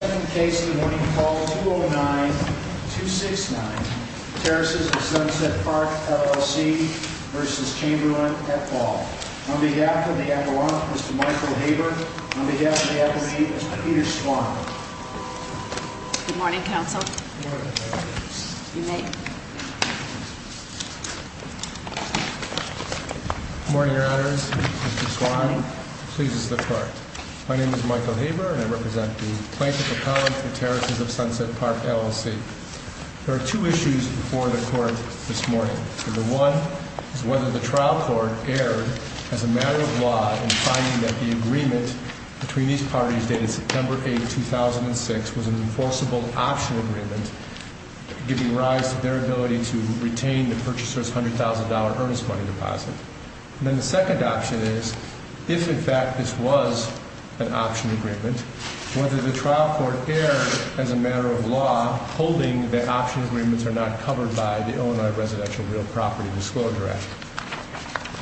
Second case of the morning, call 209-269, Terraces of Sunset Park, LLC v. Chamberlin, Epaule. On behalf of the Adelaide, Mr. Michael Haber. On behalf of the Adelaide, Mr. Peter Swan. Good morning, counsel. Good morning. You may. Good morning, your honors. Mr. Swan. Good morning. Please, this is the clerk. My name is Michael Haber and I represent the Plaintiff, Epaule, and the Terraces of Sunset Park, LLC. There are two issues before the court this morning. Number one is whether the trial court erred as a matter of law in finding that the agreement between these parties dated September 8, 2006 was an enforceable optional agreement, giving rise to their ability to retain the purchaser's $100,000 earnest money deposit. And then the second option is, if in fact this was an option agreement, whether the trial court erred as a matter of law, holding that option agreements are not covered by the Illinois Residential Real Property Disclosure Act.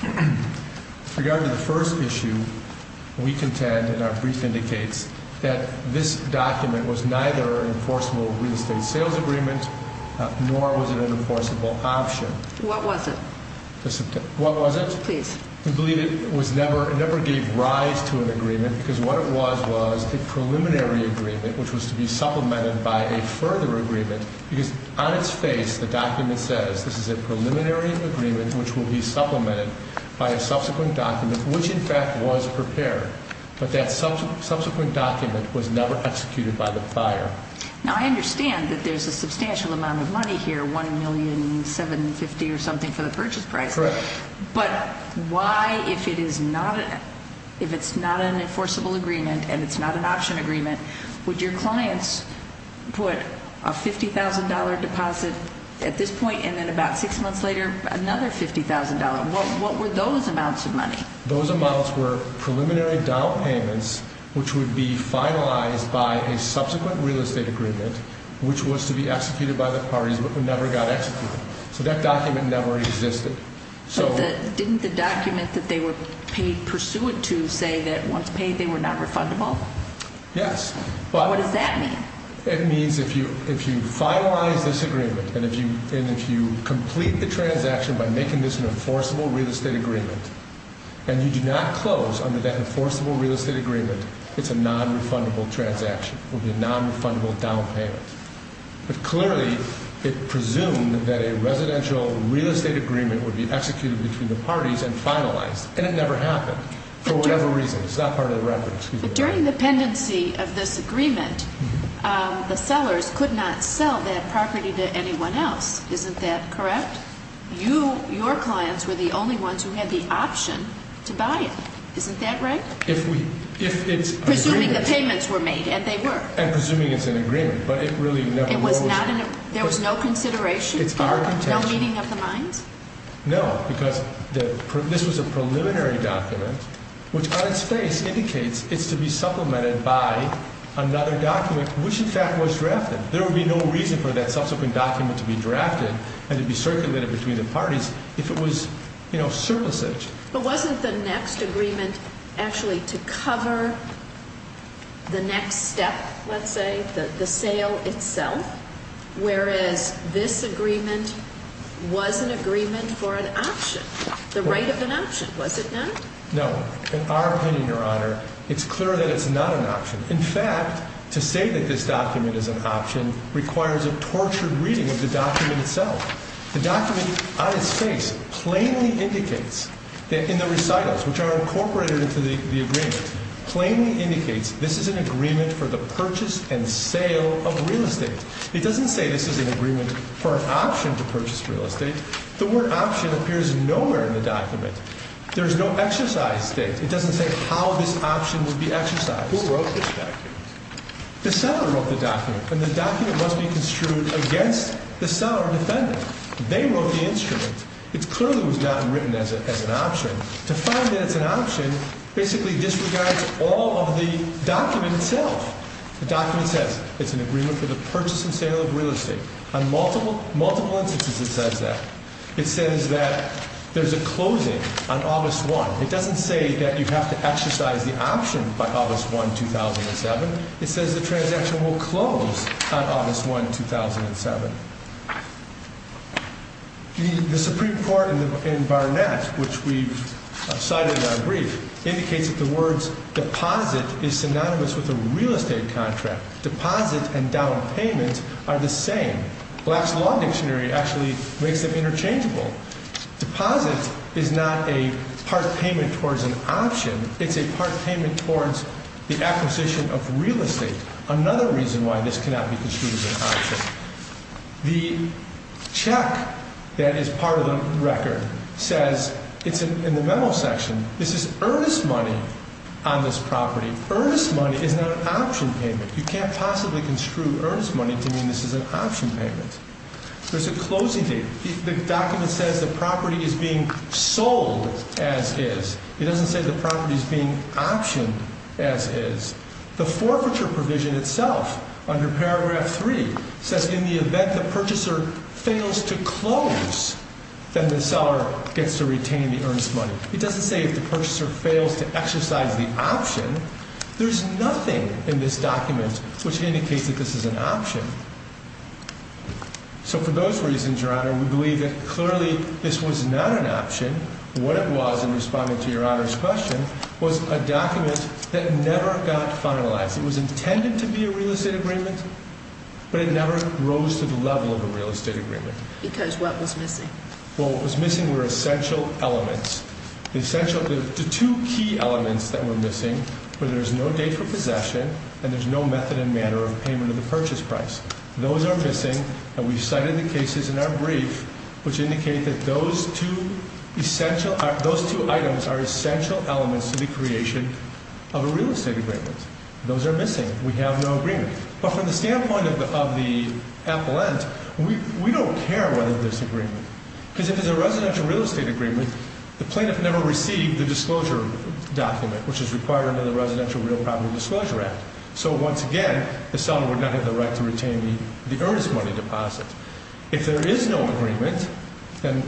With regard to the first issue, we contend, and our brief indicates, that this document was neither an enforceable real estate sales agreement, nor was it an enforceable option. What was it? Please. We believe it never gave rise to an agreement, because what it was was a preliminary agreement, which was to be supplemented by a further agreement. Because on its face, the document says, this is a preliminary agreement, which will be supplemented by a subsequent document, which in fact was prepared. But that subsequent document was never executed by the buyer. Now, I understand that there's a substantial amount of money here, $1,750,000 or something for the purchase price. Correct. But why, if it's not an enforceable agreement, and it's not an option agreement, would your clients put a $50,000 deposit at this point, and then about six months later, another $50,000? What were those amounts of money? Those amounts were preliminary down payments, which would be finalized by a subsequent real estate agreement, which was to be executed by the parties, but never got executed. So that document never existed. But didn't the document that they were paid pursuant to say that once paid, they were not refundable? Yes. What does that mean? It means if you finalize this agreement, and if you complete the transaction by making this an enforceable real estate agreement, and you do not close under that enforceable real estate agreement, it's a nonrefundable transaction. It would be a nonrefundable down payment. But clearly, it presumed that a residential real estate agreement would be executed between the parties and finalized, and it never happened, for whatever reason. It's not part of the record. But during the pendency of this agreement, the sellers could not sell that property to anyone else. Isn't that correct? Your clients were the only ones who had the option to buy it. Isn't that right? If it's a agreement. Presuming the payments were made, and they were. And presuming it's an agreement, but it really never was. There was no consideration? It's our contention. No meeting of the minds? No, because this was a preliminary document, which on its face indicates it's to be supplemented by another document, which, in fact, was drafted. There would be no reason for that subsequent document to be drafted and to be circulated between the parties if it was surplusage. But wasn't the next agreement actually to cover the next step, let's say, the sale itself? Whereas this agreement was an agreement for an option, the right of an option, was it not? No. In our opinion, Your Honor, it's clear that it's not an option. In fact, to say that this document is an option requires a tortured reading of the document itself. The document on its face plainly indicates that in the recitals, which are incorporated into the agreement, plainly indicates this is an agreement for the purchase and sale of real estate. It doesn't say this is an agreement for an option to purchase real estate. The word option appears nowhere in the document. There's no exercise state. It doesn't say how this option would be exercised. Who wrote this document? The seller wrote the document, and the document must be construed against the seller or defendant. They wrote the instrument. It clearly was not written as an option. To find that it's an option basically disregards all of the document itself. The document says it's an agreement for the purchase and sale of real estate. On multiple instances it says that. It says that there's a closing on August 1. It doesn't say that you have to exercise the option by August 1, 2007. It says the transaction will close on August 1, 2007. The Supreme Court in Barnett, which we've cited in our brief, indicates that the words deposit is synonymous with a real estate contract. Deposit and down payment are the same. Black's Law Dictionary actually makes them interchangeable. Deposit is not a part payment towards an option. It's a part payment towards the acquisition of real estate. Another reason why this cannot be construed as an option. The check that is part of the record says, in the memo section, this is earnest money on this property. Earnest money is not an option payment. You can't possibly construe earnest money to mean this is an option payment. There's a closing date. The document says the property is being sold as is. It doesn't say the property is being optioned as is. The forfeiture provision itself, under paragraph 3, says in the event the purchaser fails to close, then the seller gets to retain the earnest money. It doesn't say if the purchaser fails to exercise the option. There's nothing in this document which indicates that this is an option. So for those reasons, Your Honor, we believe that clearly this was not an option. What it was, in responding to Your Honor's question, was a document that never got finalized. It was intended to be a real estate agreement, but it never rose to the level of a real estate agreement. Because what was missing? Well, what was missing were essential elements. The two key elements that were missing were there's no date for possession and there's no method and manner of payment of the purchase price. Those are missing, and we've cited the cases in our brief which indicate that those two items are essential elements to the creation of a real estate agreement. Those are missing. We have no agreement. But from the standpoint of the appellant, we don't care whether there's agreement. Because if there's a residential real estate agreement, the plaintiff never received the disclosure document, which is required under the Residential Real Property Disclosure Act. So once again, the seller would not have the right to retain the earnest money deposit. If there is no agreement, then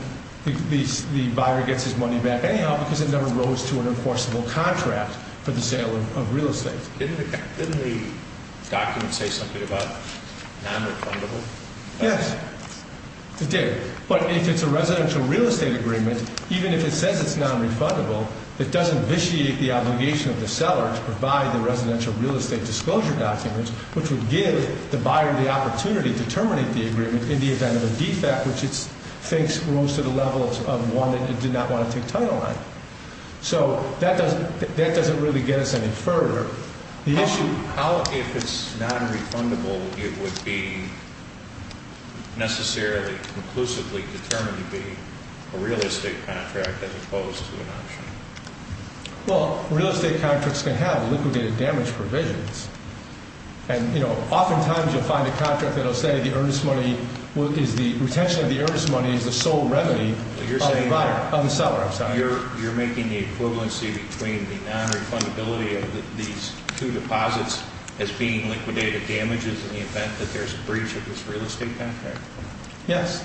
the buyer gets his money back anyhow because it never rose to an enforceable contract for the sale of real estate. Didn't the document say something about nonrefundable? Yes, it did. But if it's a residential real estate agreement, even if it says it's nonrefundable, it doesn't vitiate the obligation of the seller to provide the residential real estate disclosure documents, which would give the buyer the opportunity to terminate the agreement in the event of a defect, which it thinks rose to the level of one that it did not want to take title on. So that doesn't really get us any further. How, if it's nonrefundable, it would be necessarily conclusively determined to be a real estate contract as opposed to an option? Well, real estate contracts can have liquidated damage provisions. And oftentimes you'll find a contract that will say the retention of the earnest money is the sole revenue of the seller. You're making the equivalency between the nonrefundability of these two deposits as being liquidated damages in the event that there's a breach of this real estate contract? Yes.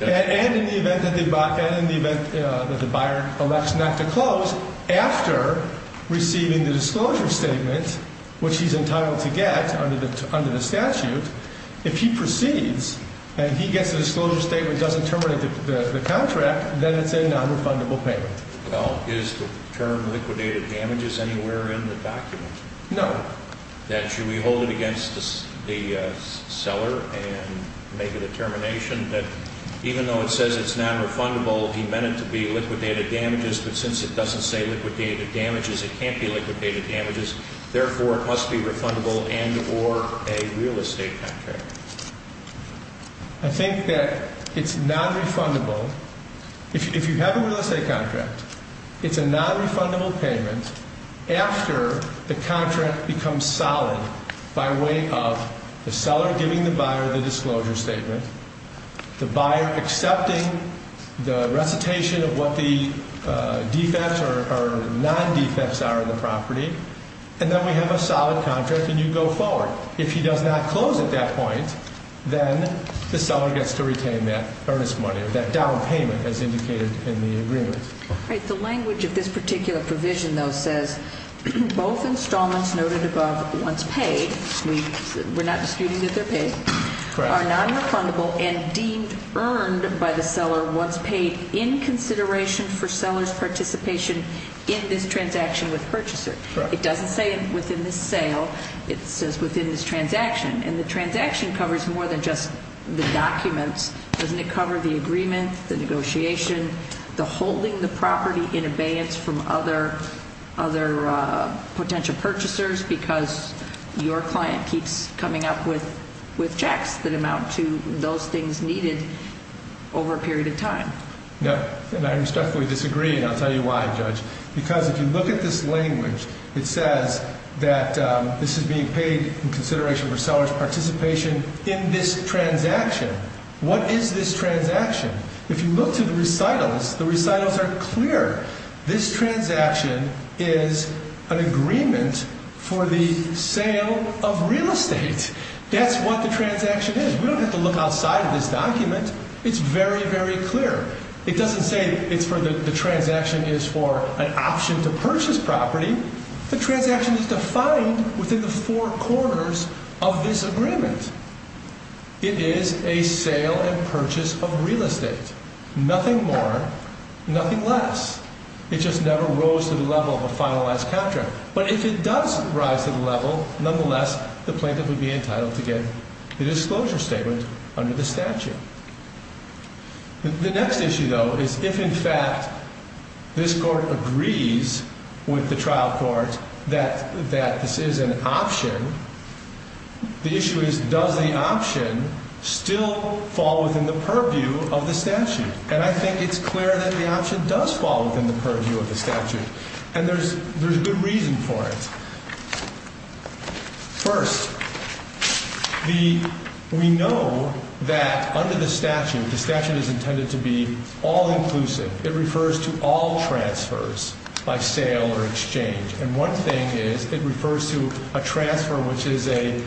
And in the event that the buyer elects not to close after receiving the disclosure statement, which he's entitled to get under the statute, if he proceeds and he gets a disclosure statement that doesn't terminate the contract, then it's a nonrefundable payment. Well, is the term liquidated damages anywhere in the document? No. Then should we hold it against the seller and make a determination that even though it says it's nonrefundable, he meant it to be liquidated damages, but since it doesn't say liquidated damages, it can't be liquidated damages, therefore it must be refundable and or a real estate contract. I think that it's nonrefundable. If you have a real estate contract, it's a nonrefundable payment after the contract becomes solid by way of the seller giving the buyer the disclosure statement, the buyer accepting the recitation of what the defects or non-defects are of the property, and then we have a solid contract and you go forward. If he does not close at that point, then the seller gets to retain that earnest money or that down payment as indicated in the agreement. The language of this particular provision, though, says both installments noted above once paid, we're not disputing that they're paid, are nonrefundable and deemed earned by the seller once paid in consideration for seller's participation in this transaction with purchaser. It doesn't say within this sale, it says within this transaction, and the transaction covers more than just the documents. Doesn't it cover the agreement, the negotiation, the holding the property in abeyance from other potential purchasers because your client keeps coming up with checks that amount to those things needed over a period of time? Yeah, and I respectfully disagree, and I'll tell you why, Judge. Because if you look at this language, it says that this is being paid in consideration for seller's participation in this transaction. What is this transaction? If you look to the recitals, the recitals are clear. This transaction is an agreement for the sale of real estate. That's what the transaction is. We don't have to look outside of this document. It's very, very clear. It doesn't say the transaction is for an option to purchase property. The transaction is defined within the four corners of this agreement. It is a sale and purchase of real estate, nothing more, nothing less. It just never rose to the level of a finalized contract. But if it does rise to the level, nonetheless, the plaintiff would be entitled to get the disclosure statement under the statute. The next issue, though, is if, in fact, this court agrees with the trial court that this is an option, the issue is does the option still fall within the purview of the statute? And I think it's clear that the option does fall within the purview of the statute, and there's a good reason for it. First, we know that under the statute, the statute is intended to be all-inclusive. It refers to all transfers by sale or exchange. And one thing is it refers to a transfer which is a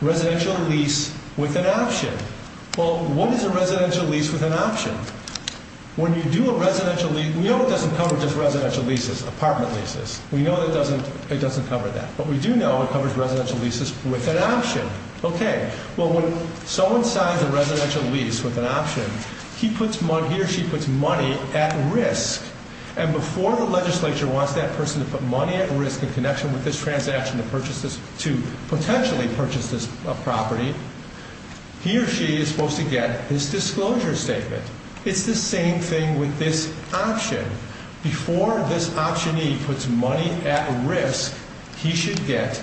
residential lease with an option. Well, what is a residential lease with an option? When you do a residential lease, we know it doesn't cover just residential leases, apartment leases. We know it doesn't cover that. But we do know it covers residential leases with an option. Okay. Well, when someone signs a residential lease with an option, he or she puts money at risk. And before the legislature wants that person to put money at risk in connection with this transaction to potentially purchase this property, he or she is supposed to get his disclosure statement. It's the same thing with this option. Before this optionee puts money at risk, he should get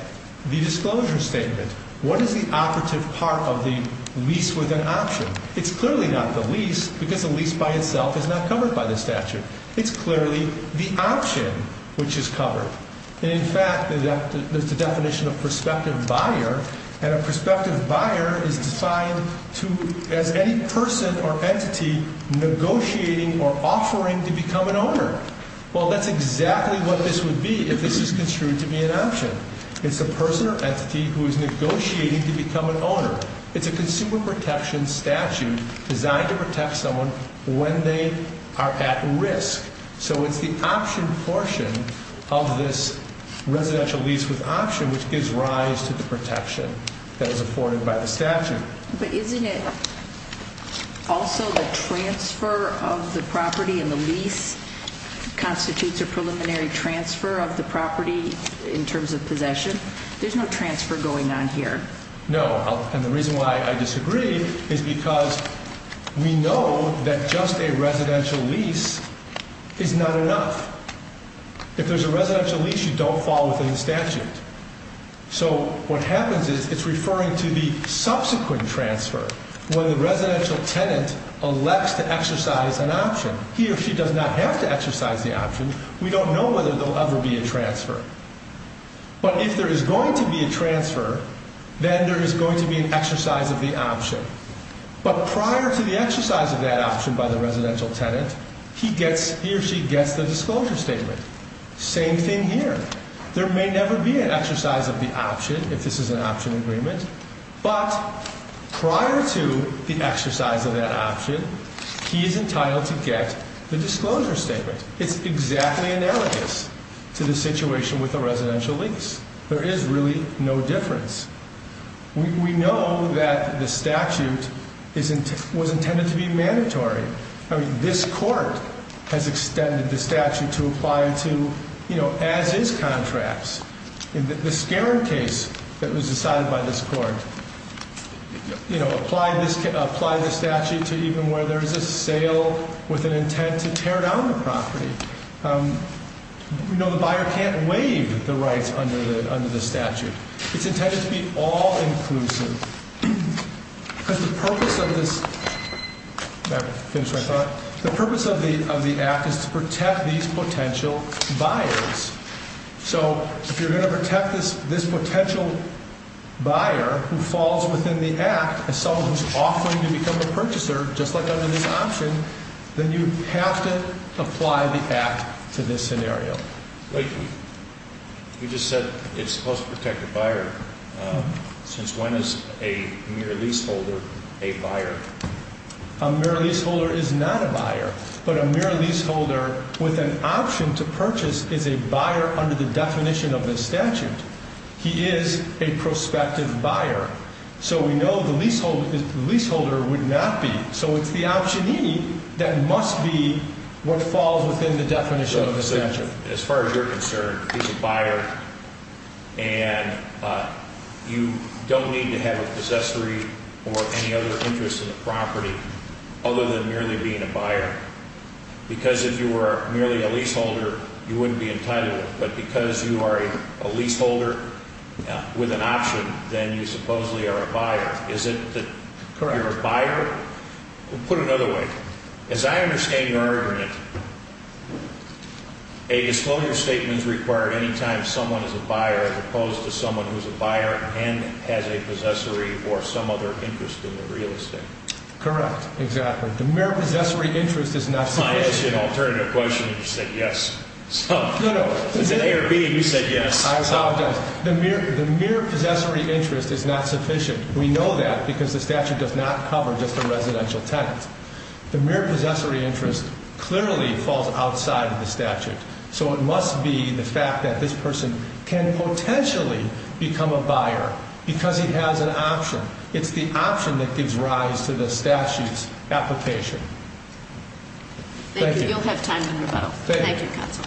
the disclosure statement. What is the operative part of the lease with an option? It's clearly not the lease because the lease by itself is not covered by the statute. It's clearly the option which is covered. In fact, there's a definition of prospective buyer, and a prospective buyer is defined as any person or entity negotiating or offering to become an owner. Well, that's exactly what this would be if this was construed to be an option. It's a person or entity who is negotiating to become an owner. It's a consumer protection statute designed to protect someone when they are at risk. So it's the option portion of this residential lease with option which gives rise to the protection that is afforded by the statute. But isn't it also the transfer of the property and the lease constitutes a preliminary transfer of the property in terms of possession? There's no transfer going on here. No, and the reason why I disagree is because we know that just a residential lease is not enough. If there's a residential lease, you don't fall within the statute. So what happens is it's referring to the subsequent transfer where the residential tenant elects to exercise an option. He or she does not have to exercise the option. We don't know whether there will ever be a transfer. But if there is going to be a transfer, then there is going to be an exercise of the option. But prior to the exercise of that option by the residential tenant, he or she gets the disclosure statement. Same thing here. There may never be an exercise of the option if this is an option agreement. But prior to the exercise of that option, he is entitled to get the disclosure statement. It's exactly analogous to the situation with the residential lease. There is really no difference. We know that the statute was intended to be mandatory. I mean, this court has extended the statute to apply to as-is contracts. In the Skaren case that was decided by this court, you know, apply the statute to even where there is a sale with an intent to tear down the property. You know, the buyer can't waive the rights under the statute. It's intended to be all-inclusive. The purpose of the act is to protect these potential buyers. So if you're going to protect this potential buyer who falls within the act, someone who is offering to become a purchaser, just like under this option, then you have to apply the act to this scenario. Wait, you just said it's supposed to protect the buyer. Since when is a mere leaseholder a buyer? A mere leaseholder is not a buyer. But a mere leaseholder with an option to purchase is a buyer under the definition of the statute. He is a prospective buyer. So we know the leaseholder would not be. So it's the optionee that must be what falls within the definition of the statute. As far as you're concerned, he's a buyer. And you don't need to have a possessory or any other interest in the property other than merely being a buyer. Because if you were merely a leaseholder, you wouldn't be entitled. But because you are a leaseholder with an option, then you supposedly are a buyer. Is it that you're a buyer? Put it another way. As I understand your argument, a disclosure statement is required any time someone is a buyer as opposed to someone who is a buyer and has a possessory or some other interest in the real estate. Correct. Exactly. The mere possessory interest is not sufficient. I asked you an alternative question and you said yes. No, no. It's an A or B and you said yes. I apologize. The mere possessory interest is not sufficient. We know that because the statute does not cover just the residential tenant. The mere possessory interest clearly falls outside of the statute. So it must be the fact that this person can potentially become a buyer because he has an option. It's the option that gives rise to the statute's application. Thank you. You'll have time to rebuttal. Thank you. Thank you, counsel.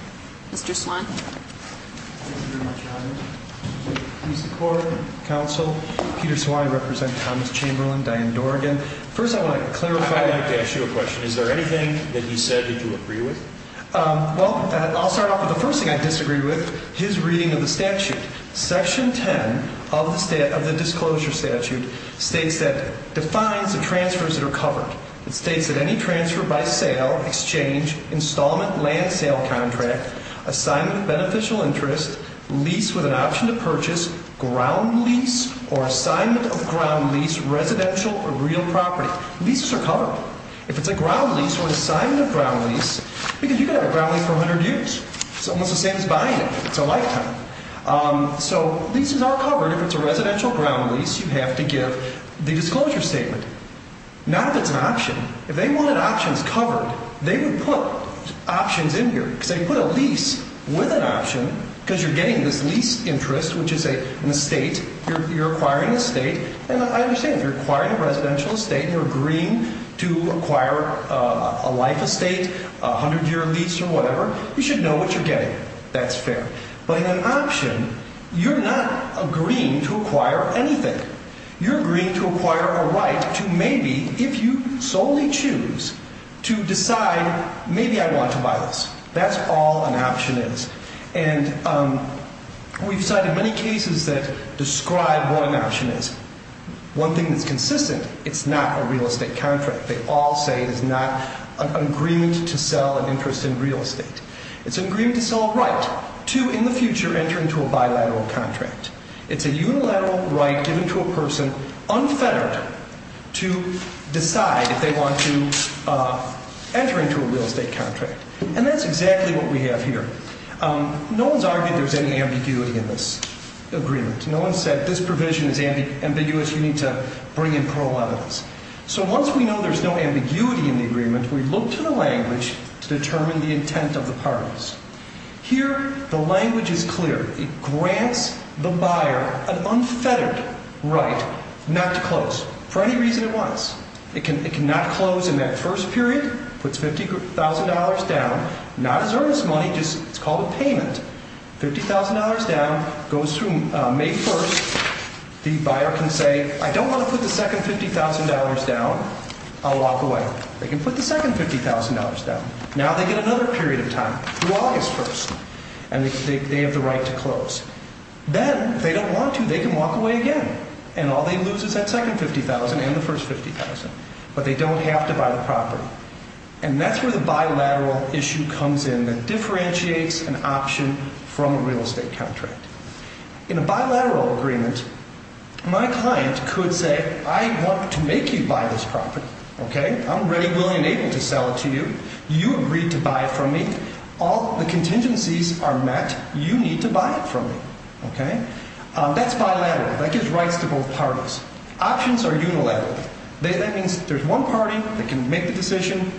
Mr. Swine. Thank you very much, Your Honor. Please support counsel Peter Swine representing Thomas Chamberlain, Diane Dorgan. First I want to clarify. I'd like to ask you a question. Is there anything that he said that you agree with? Well, I'll start off with the first thing I disagree with, his reading of the statute. Section 10 of the disclosure statute states that defines the transfers that are covered. It states that any transfer by sale, exchange, installment, land sale contract, assignment of beneficial interest, lease with an option to purchase, ground lease or assignment of ground lease, residential or real property. Leases are covered. If it's a ground lease or assignment of ground lease, because you can have a ground lease for 100 years. It's almost the same as buying it. It's a lifetime. So leases are covered. If it's a residential ground lease, you have to give the disclosure statement. Not if it's an option. If they wanted options covered, they would put options in here. Because they put a lease with an option because you're getting this lease interest, which is an estate. You're acquiring an estate. And I understand if you're acquiring a residential estate and you're agreeing to acquire a life estate, a 100-year lease or whatever, you should know what you're getting. That's fair. But in an option, you're not agreeing to acquire anything. You're agreeing to acquire a right to maybe, if you solely choose, to decide, maybe I want to buy this. That's all an option is. And we've cited many cases that describe what an option is. One thing that's consistent, it's not a real estate contract. They all say it is not an agreement to sell an interest in real estate. It's an agreement to sell a right to, in the future, enter into a bilateral contract. It's a unilateral right given to a person, unfettered, to decide if they want to enter into a real estate contract. And that's exactly what we have here. No one's argued there's any ambiguity in this agreement. No one said this provision is ambiguous. You need to bring in parole evidence. So once we know there's no ambiguity in the agreement, we look to the language to determine the intent of the parties. Here, the language is clear. It grants the buyer an unfettered right not to close for any reason it wants. It cannot close in that first period. It puts $50,000 down. Not as earnest money, just it's called a payment. $50,000 down goes through May 1st. The buyer can say, I don't want to put the second $50,000 down. I'll walk away. They can put the second $50,000 down. Now they get another period of time, through August 1st. And they have the right to close. Then, if they don't want to, they can walk away again. And all they lose is that second $50,000 and the first $50,000. But they don't have to buy the property. And that's where the bilateral issue comes in that differentiates an option from a real estate contract. In a bilateral agreement, my client could say, I want to make you buy this property, okay? I'm ready, willing, and able to sell it to you. You agree to buy it from me. All the contingencies are met. You need to buy it from me, okay? That's bilateral. That gives rights to both parties. Options are unilateral. That means there's one party that can make the decision,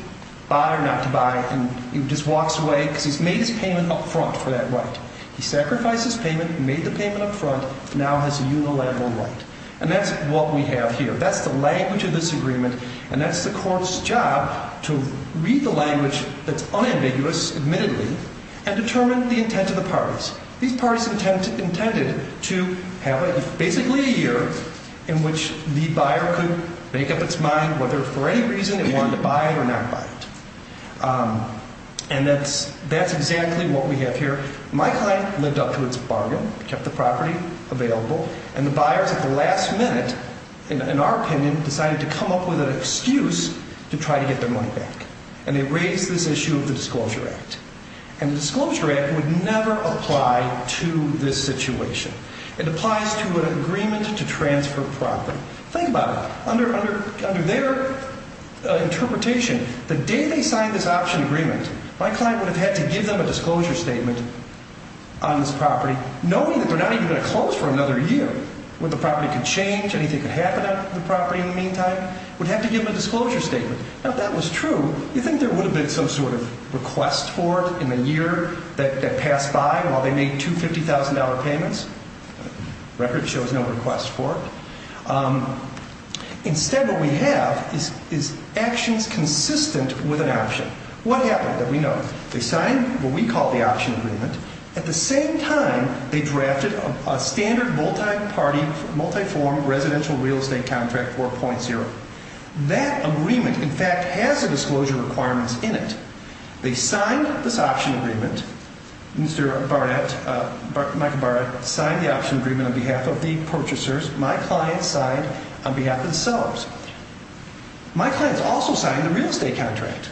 buy or not to buy, and just walks away because he's made his payment up front for that right. He sacrificed his payment, made the payment up front, now has a unilateral right. And that's what we have here. That's the language of this agreement. And that's the court's job to read the language that's unambiguous, admittedly, and determine the intent of the parties. These parties intended to have basically a year in which the buyer could make up its mind whether for any reason it wanted to buy it or not buy it. And that's exactly what we have here. My client lived up to its bargain, kept the property available, and the buyers at the last minute, in our opinion, decided to come up with an excuse to try to get their money back. And they raised this issue of the Disclosure Act. And the Disclosure Act would never apply to this situation. It applies to an agreement to transfer property. Think about it. Under their interpretation, the day they signed this option agreement, my client would have had to give them a disclosure statement on this property, knowing that they're not even going to close for another year, when the property could change, anything could happen on the property in the meantime, would have to give them a disclosure statement. Now, if that was true, you'd think there would have been some sort of request for it in the year that passed by while they made two $50,000 payments. The record shows no request for it. Instead, what we have is actions consistent with an option. What happened? That we know. They signed what we call the option agreement. At the same time, they drafted a standard multi-party, multi-form residential real estate contract 4.0. That agreement, in fact, has the disclosure requirements in it. They signed this option agreement. Mr. Barnett, Michael Barnett, signed the option agreement on behalf of the purchasers. My client signed on behalf of themselves. My client also signed the real estate contract.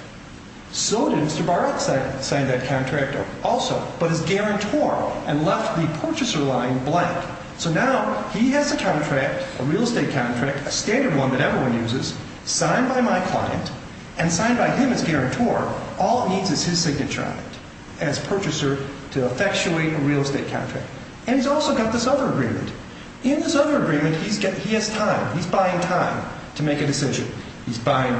So did Mr. Barnett sign that contract also. But as guarantor and left the purchaser line blank. So now he has a contract, a real estate contract, a standard one that everyone uses, signed by my client and signed by him as guarantor. All it needs is his signature on it as purchaser to effectuate a real estate contract. And he's also got this other agreement. In this other agreement, he has time. He's buying time to make a decision. He's buying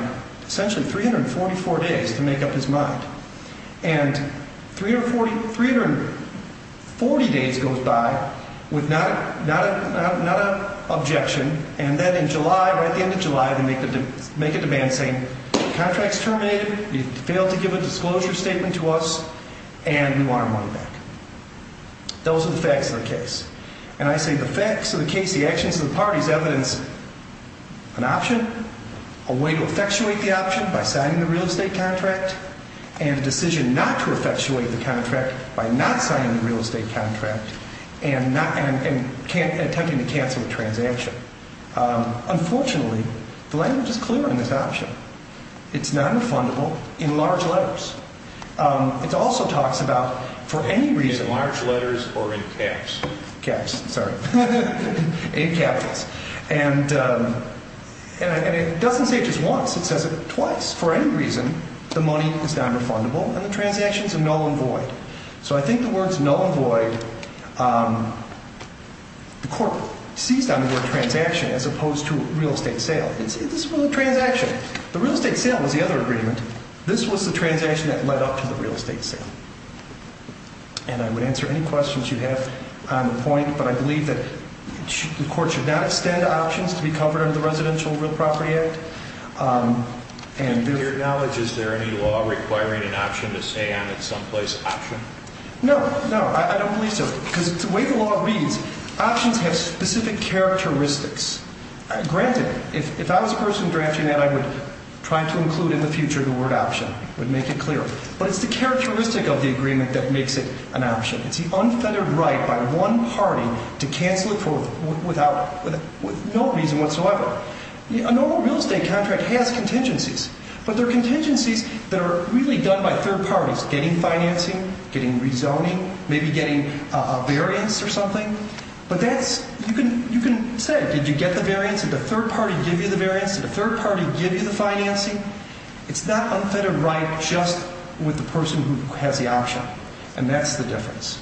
essentially 344 days to make up his mind. And 340 days goes by with not an objection. And then in July, right at the end of July, they make a demand saying, the contract's terminated, you failed to give a disclosure statement to us, and we want our money back. Those are the facts of the case. And I say the facts of the case, the actions of the parties evidence an option, a way to effectuate the option by signing the real estate contract, and a decision not to effectuate the contract by not signing the real estate contract and attempting to cancel the transaction. Unfortunately, the language is clear on this option. It's not refundable in large letters. It also talks about for any reason. In large letters or in caps? Caps, sorry. In capitals. And it doesn't say it just once. It says it twice. For any reason, the money is not refundable, and the transactions are null and void. So I think the words null and void, the court seized on the word transaction as opposed to real estate sale. This was a transaction. The real estate sale was the other agreement. This was the transaction that led up to the real estate sale. And I would answer any questions you have on the point, but I believe that the court should not extend options to be covered under the Residential Real Property Act. To your knowledge, is there any law requiring an option to say I'm at some place option? No, no, I don't believe so. Because the way the law reads, options have specific characteristics. Granted, if I was a person drafting that, I would try to include in the future the word option. I would make it clear. But it's the characteristic of the agreement that makes it an option. It's the unfettered right by one party to cancel it for no reason whatsoever. A normal real estate contract has contingencies, but they're contingencies that are really done by third parties, getting financing, getting rezoning, maybe getting a variance or something. But you can say, did you get the variance? Did the third party give you the variance? Did the third party give you the financing? It's that unfettered right just with the person who has the option. And that's the difference.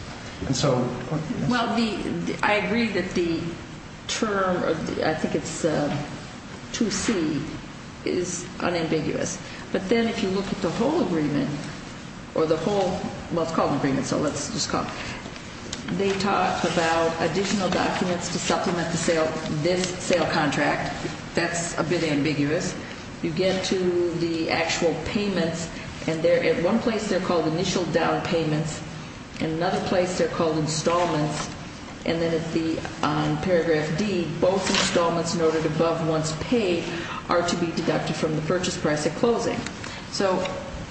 Well, I agree that the term, I think it's 2C, is unambiguous. But then if you look at the whole agreement, or the whole, well, it's called an agreement, so let's just call it, they talk about additional documents to supplement this sale contract. That's a bit ambiguous. You get to the actual payments, and at one place they're called initial down payments, and another place they're called installments, and then on paragraph D, both installments noted above once paid are to be deducted from the purchase price at closing. So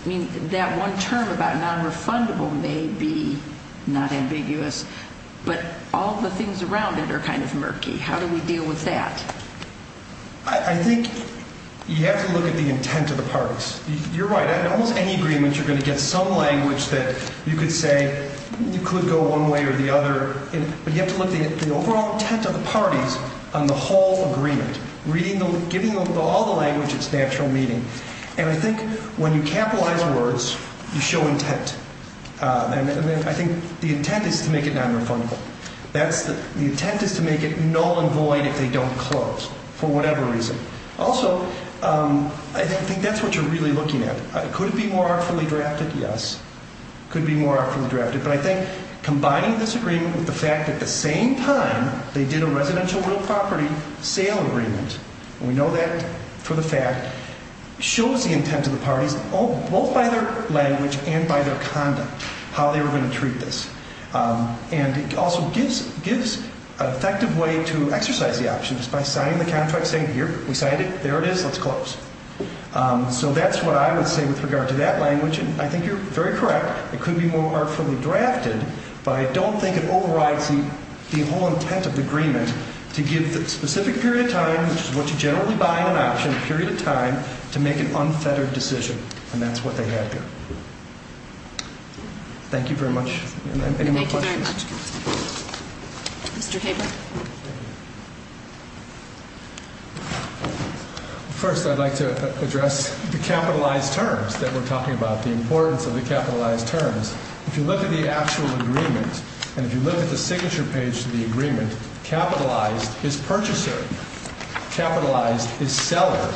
that one term about nonrefundable may be not ambiguous, but all the things around it are kind of murky. How do we deal with that? I think you have to look at the intent of the parties. You're right. In almost any agreement, you're going to get some language that you could say you could go one way or the other, but you have to look at the overall intent of the parties on the whole agreement, giving all the language its natural meaning. And I think when you capitalize words, you show intent. And I think the intent is to make it nonrefundable. The intent is to make it null and void if they don't close for whatever reason. Also, I think that's what you're really looking at. Could it be more artfully drafted? Yes. It could be more artfully drafted. But I think combining this agreement with the fact at the same time they did a residential real property sale agreement, and we know that for the fact, shows the intent of the parties both by their language and by their conduct, how they were going to treat this. And it also gives an effective way to exercise the options by signing the contract saying, here, we signed it, there it is, let's close. So that's what I would say with regard to that language, and I think you're very correct. It could be more artfully drafted, but I don't think it overrides the whole intent of the agreement to give the specific period of time, which is what you generally buy in an option, a period of time, to make an unfettered decision. And that's what they had there. Thank you very much. Any more questions? Thank you very much. Mr. Haber. First, I'd like to address the capitalized terms that we're talking about, the importance of the capitalized terms. If you look at the actual agreement, and if you look at the signature page of the agreement, capitalized is purchaser, capitalized is seller.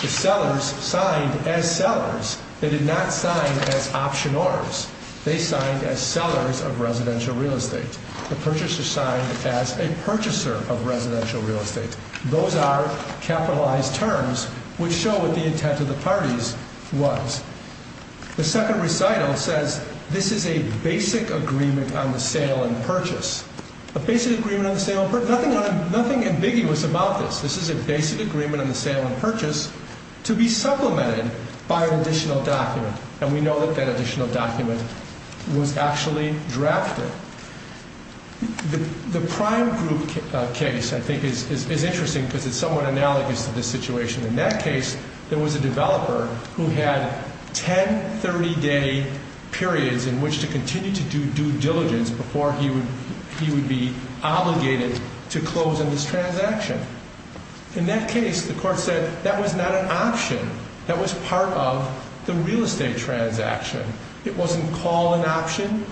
The sellers signed as sellers. They did not sign as optioners. They signed as sellers of residential real estate. The purchasers signed as a purchaser of residential real estate. Those are capitalized terms which show what the intent of the parties was. The second recital says, this is a basic agreement on the sale and purchase. A basic agreement on the sale and purchase, nothing ambiguous about this. This is a basic agreement on the sale and purchase to be supplemented by an additional document. And we know that that additional document was actually drafted. The prime group case, I think, is interesting because it's somewhat analogous to this situation. In that case, there was a developer who had 10 30-day periods in which to continue to do due diligence before he would be obligated to close on this transaction. In that case, the court said that was not an option. That was part of the real estate transaction. It wasn't called an option.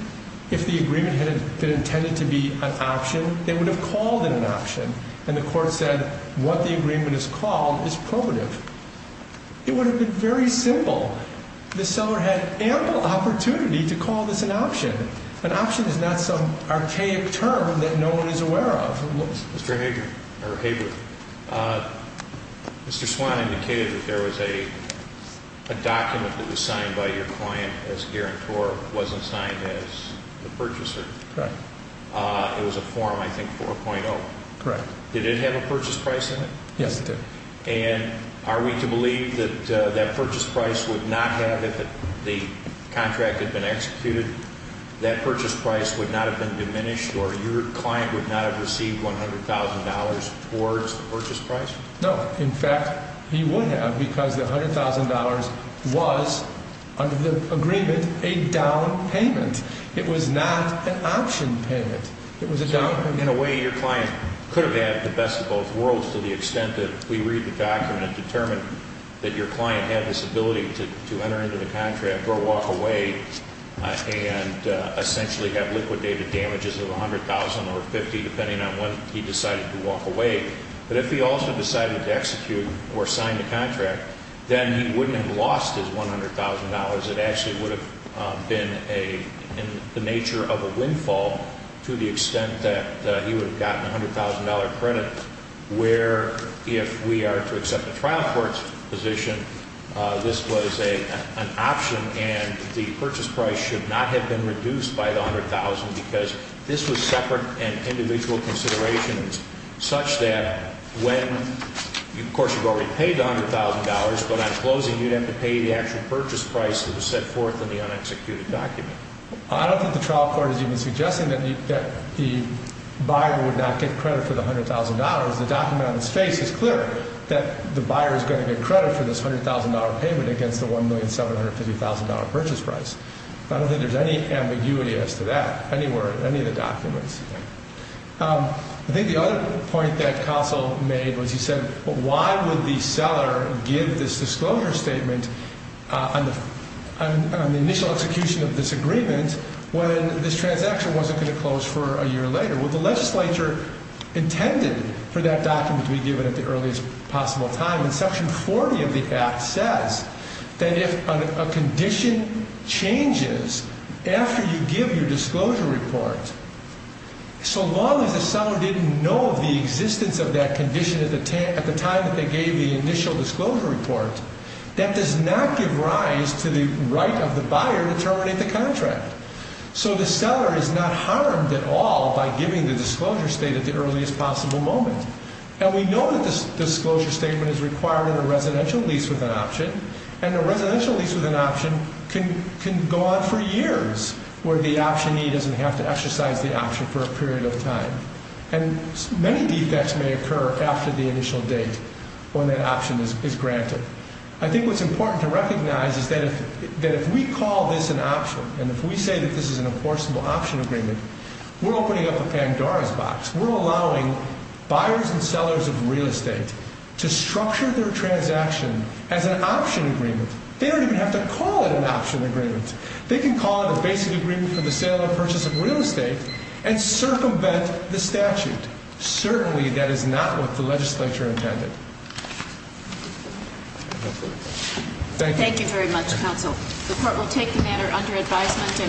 If the agreement had been intended to be an option, they would have called it an option. And the court said what the agreement is called is probative. It would have been very simple. The seller had ample opportunity to call this an option. An option is not some archaic term that no one is aware of. Mr. Hager, or Hager, Mr. Swan indicated that there was a document that was signed by your client as guarantor. It wasn't signed as the purchaser. Correct. It was a form, I think, 4.0. Correct. Yes, it did. And are we to believe that that purchase price would not have, if the contract had been executed, that purchase price would not have been diminished or your client would not have received $100,000 towards the purchase price? No. In fact, he would have because the $100,000 was, under the agreement, a down payment. It was not an option payment. It was a down payment. In a way, your client could have had the best of both worlds to the extent that we read the document and determine that your client had this ability to enter into the contract or walk away and essentially have liquidated damages of $100,000 or $50,000, depending on when he decided to walk away. But if he also decided to execute or sign the contract, then he wouldn't have lost his $100,000. It actually would have been in the nature of a windfall to the extent that he would have gotten a $100,000 credit, where if we are to accept a trial court's position, this was an option and the purchase price should not have been reduced by the $100,000 because this was separate and individual considerations such that when, of course, you've already paid the $100,000, but on closing, you'd have to pay the actual purchase price that was set forth in the unexecuted document. I don't think the trial court is even suggesting that the buyer would not get credit for the $100,000. The document on its face is clear that the buyer is going to get credit for this $100,000 payment against the $1,750,000 purchase price. I don't think there's any ambiguity as to that anywhere in any of the documents. I think the other point that Castle made was he said, why would the seller give this disclosure statement on the initial execution of this agreement when this transaction wasn't going to close for a year later? Well, the legislature intended for that document to be given at the earliest possible time. Section 40 of the Act says that if a condition changes after you give your disclosure report, so long as the seller didn't know of the existence of that condition at the time that they gave the initial disclosure report, that does not give rise to the right of the buyer to terminate the contract. So the seller is not harmed at all by giving the disclosure statement at the earliest possible moment. And we know that this disclosure statement is required in a residential lease with an option, and a residential lease with an option can go on for years where the optionee doesn't have to exercise the option for a period of time. And many defects may occur after the initial date when that option is granted. I think what's important to recognize is that if we call this an option, and if we say that this is an enforceable option agreement, we're opening up a Pandora's box. We're allowing buyers and sellers of real estate to structure their transaction as an option agreement. They don't even have to call it an option agreement. They can call it a basic agreement for the sale and purchase of real estate and circumvent the statute. Certainly that is not what the legislature intended. Thank you. Thank you very much, counsel. The court will take the matter under advisement.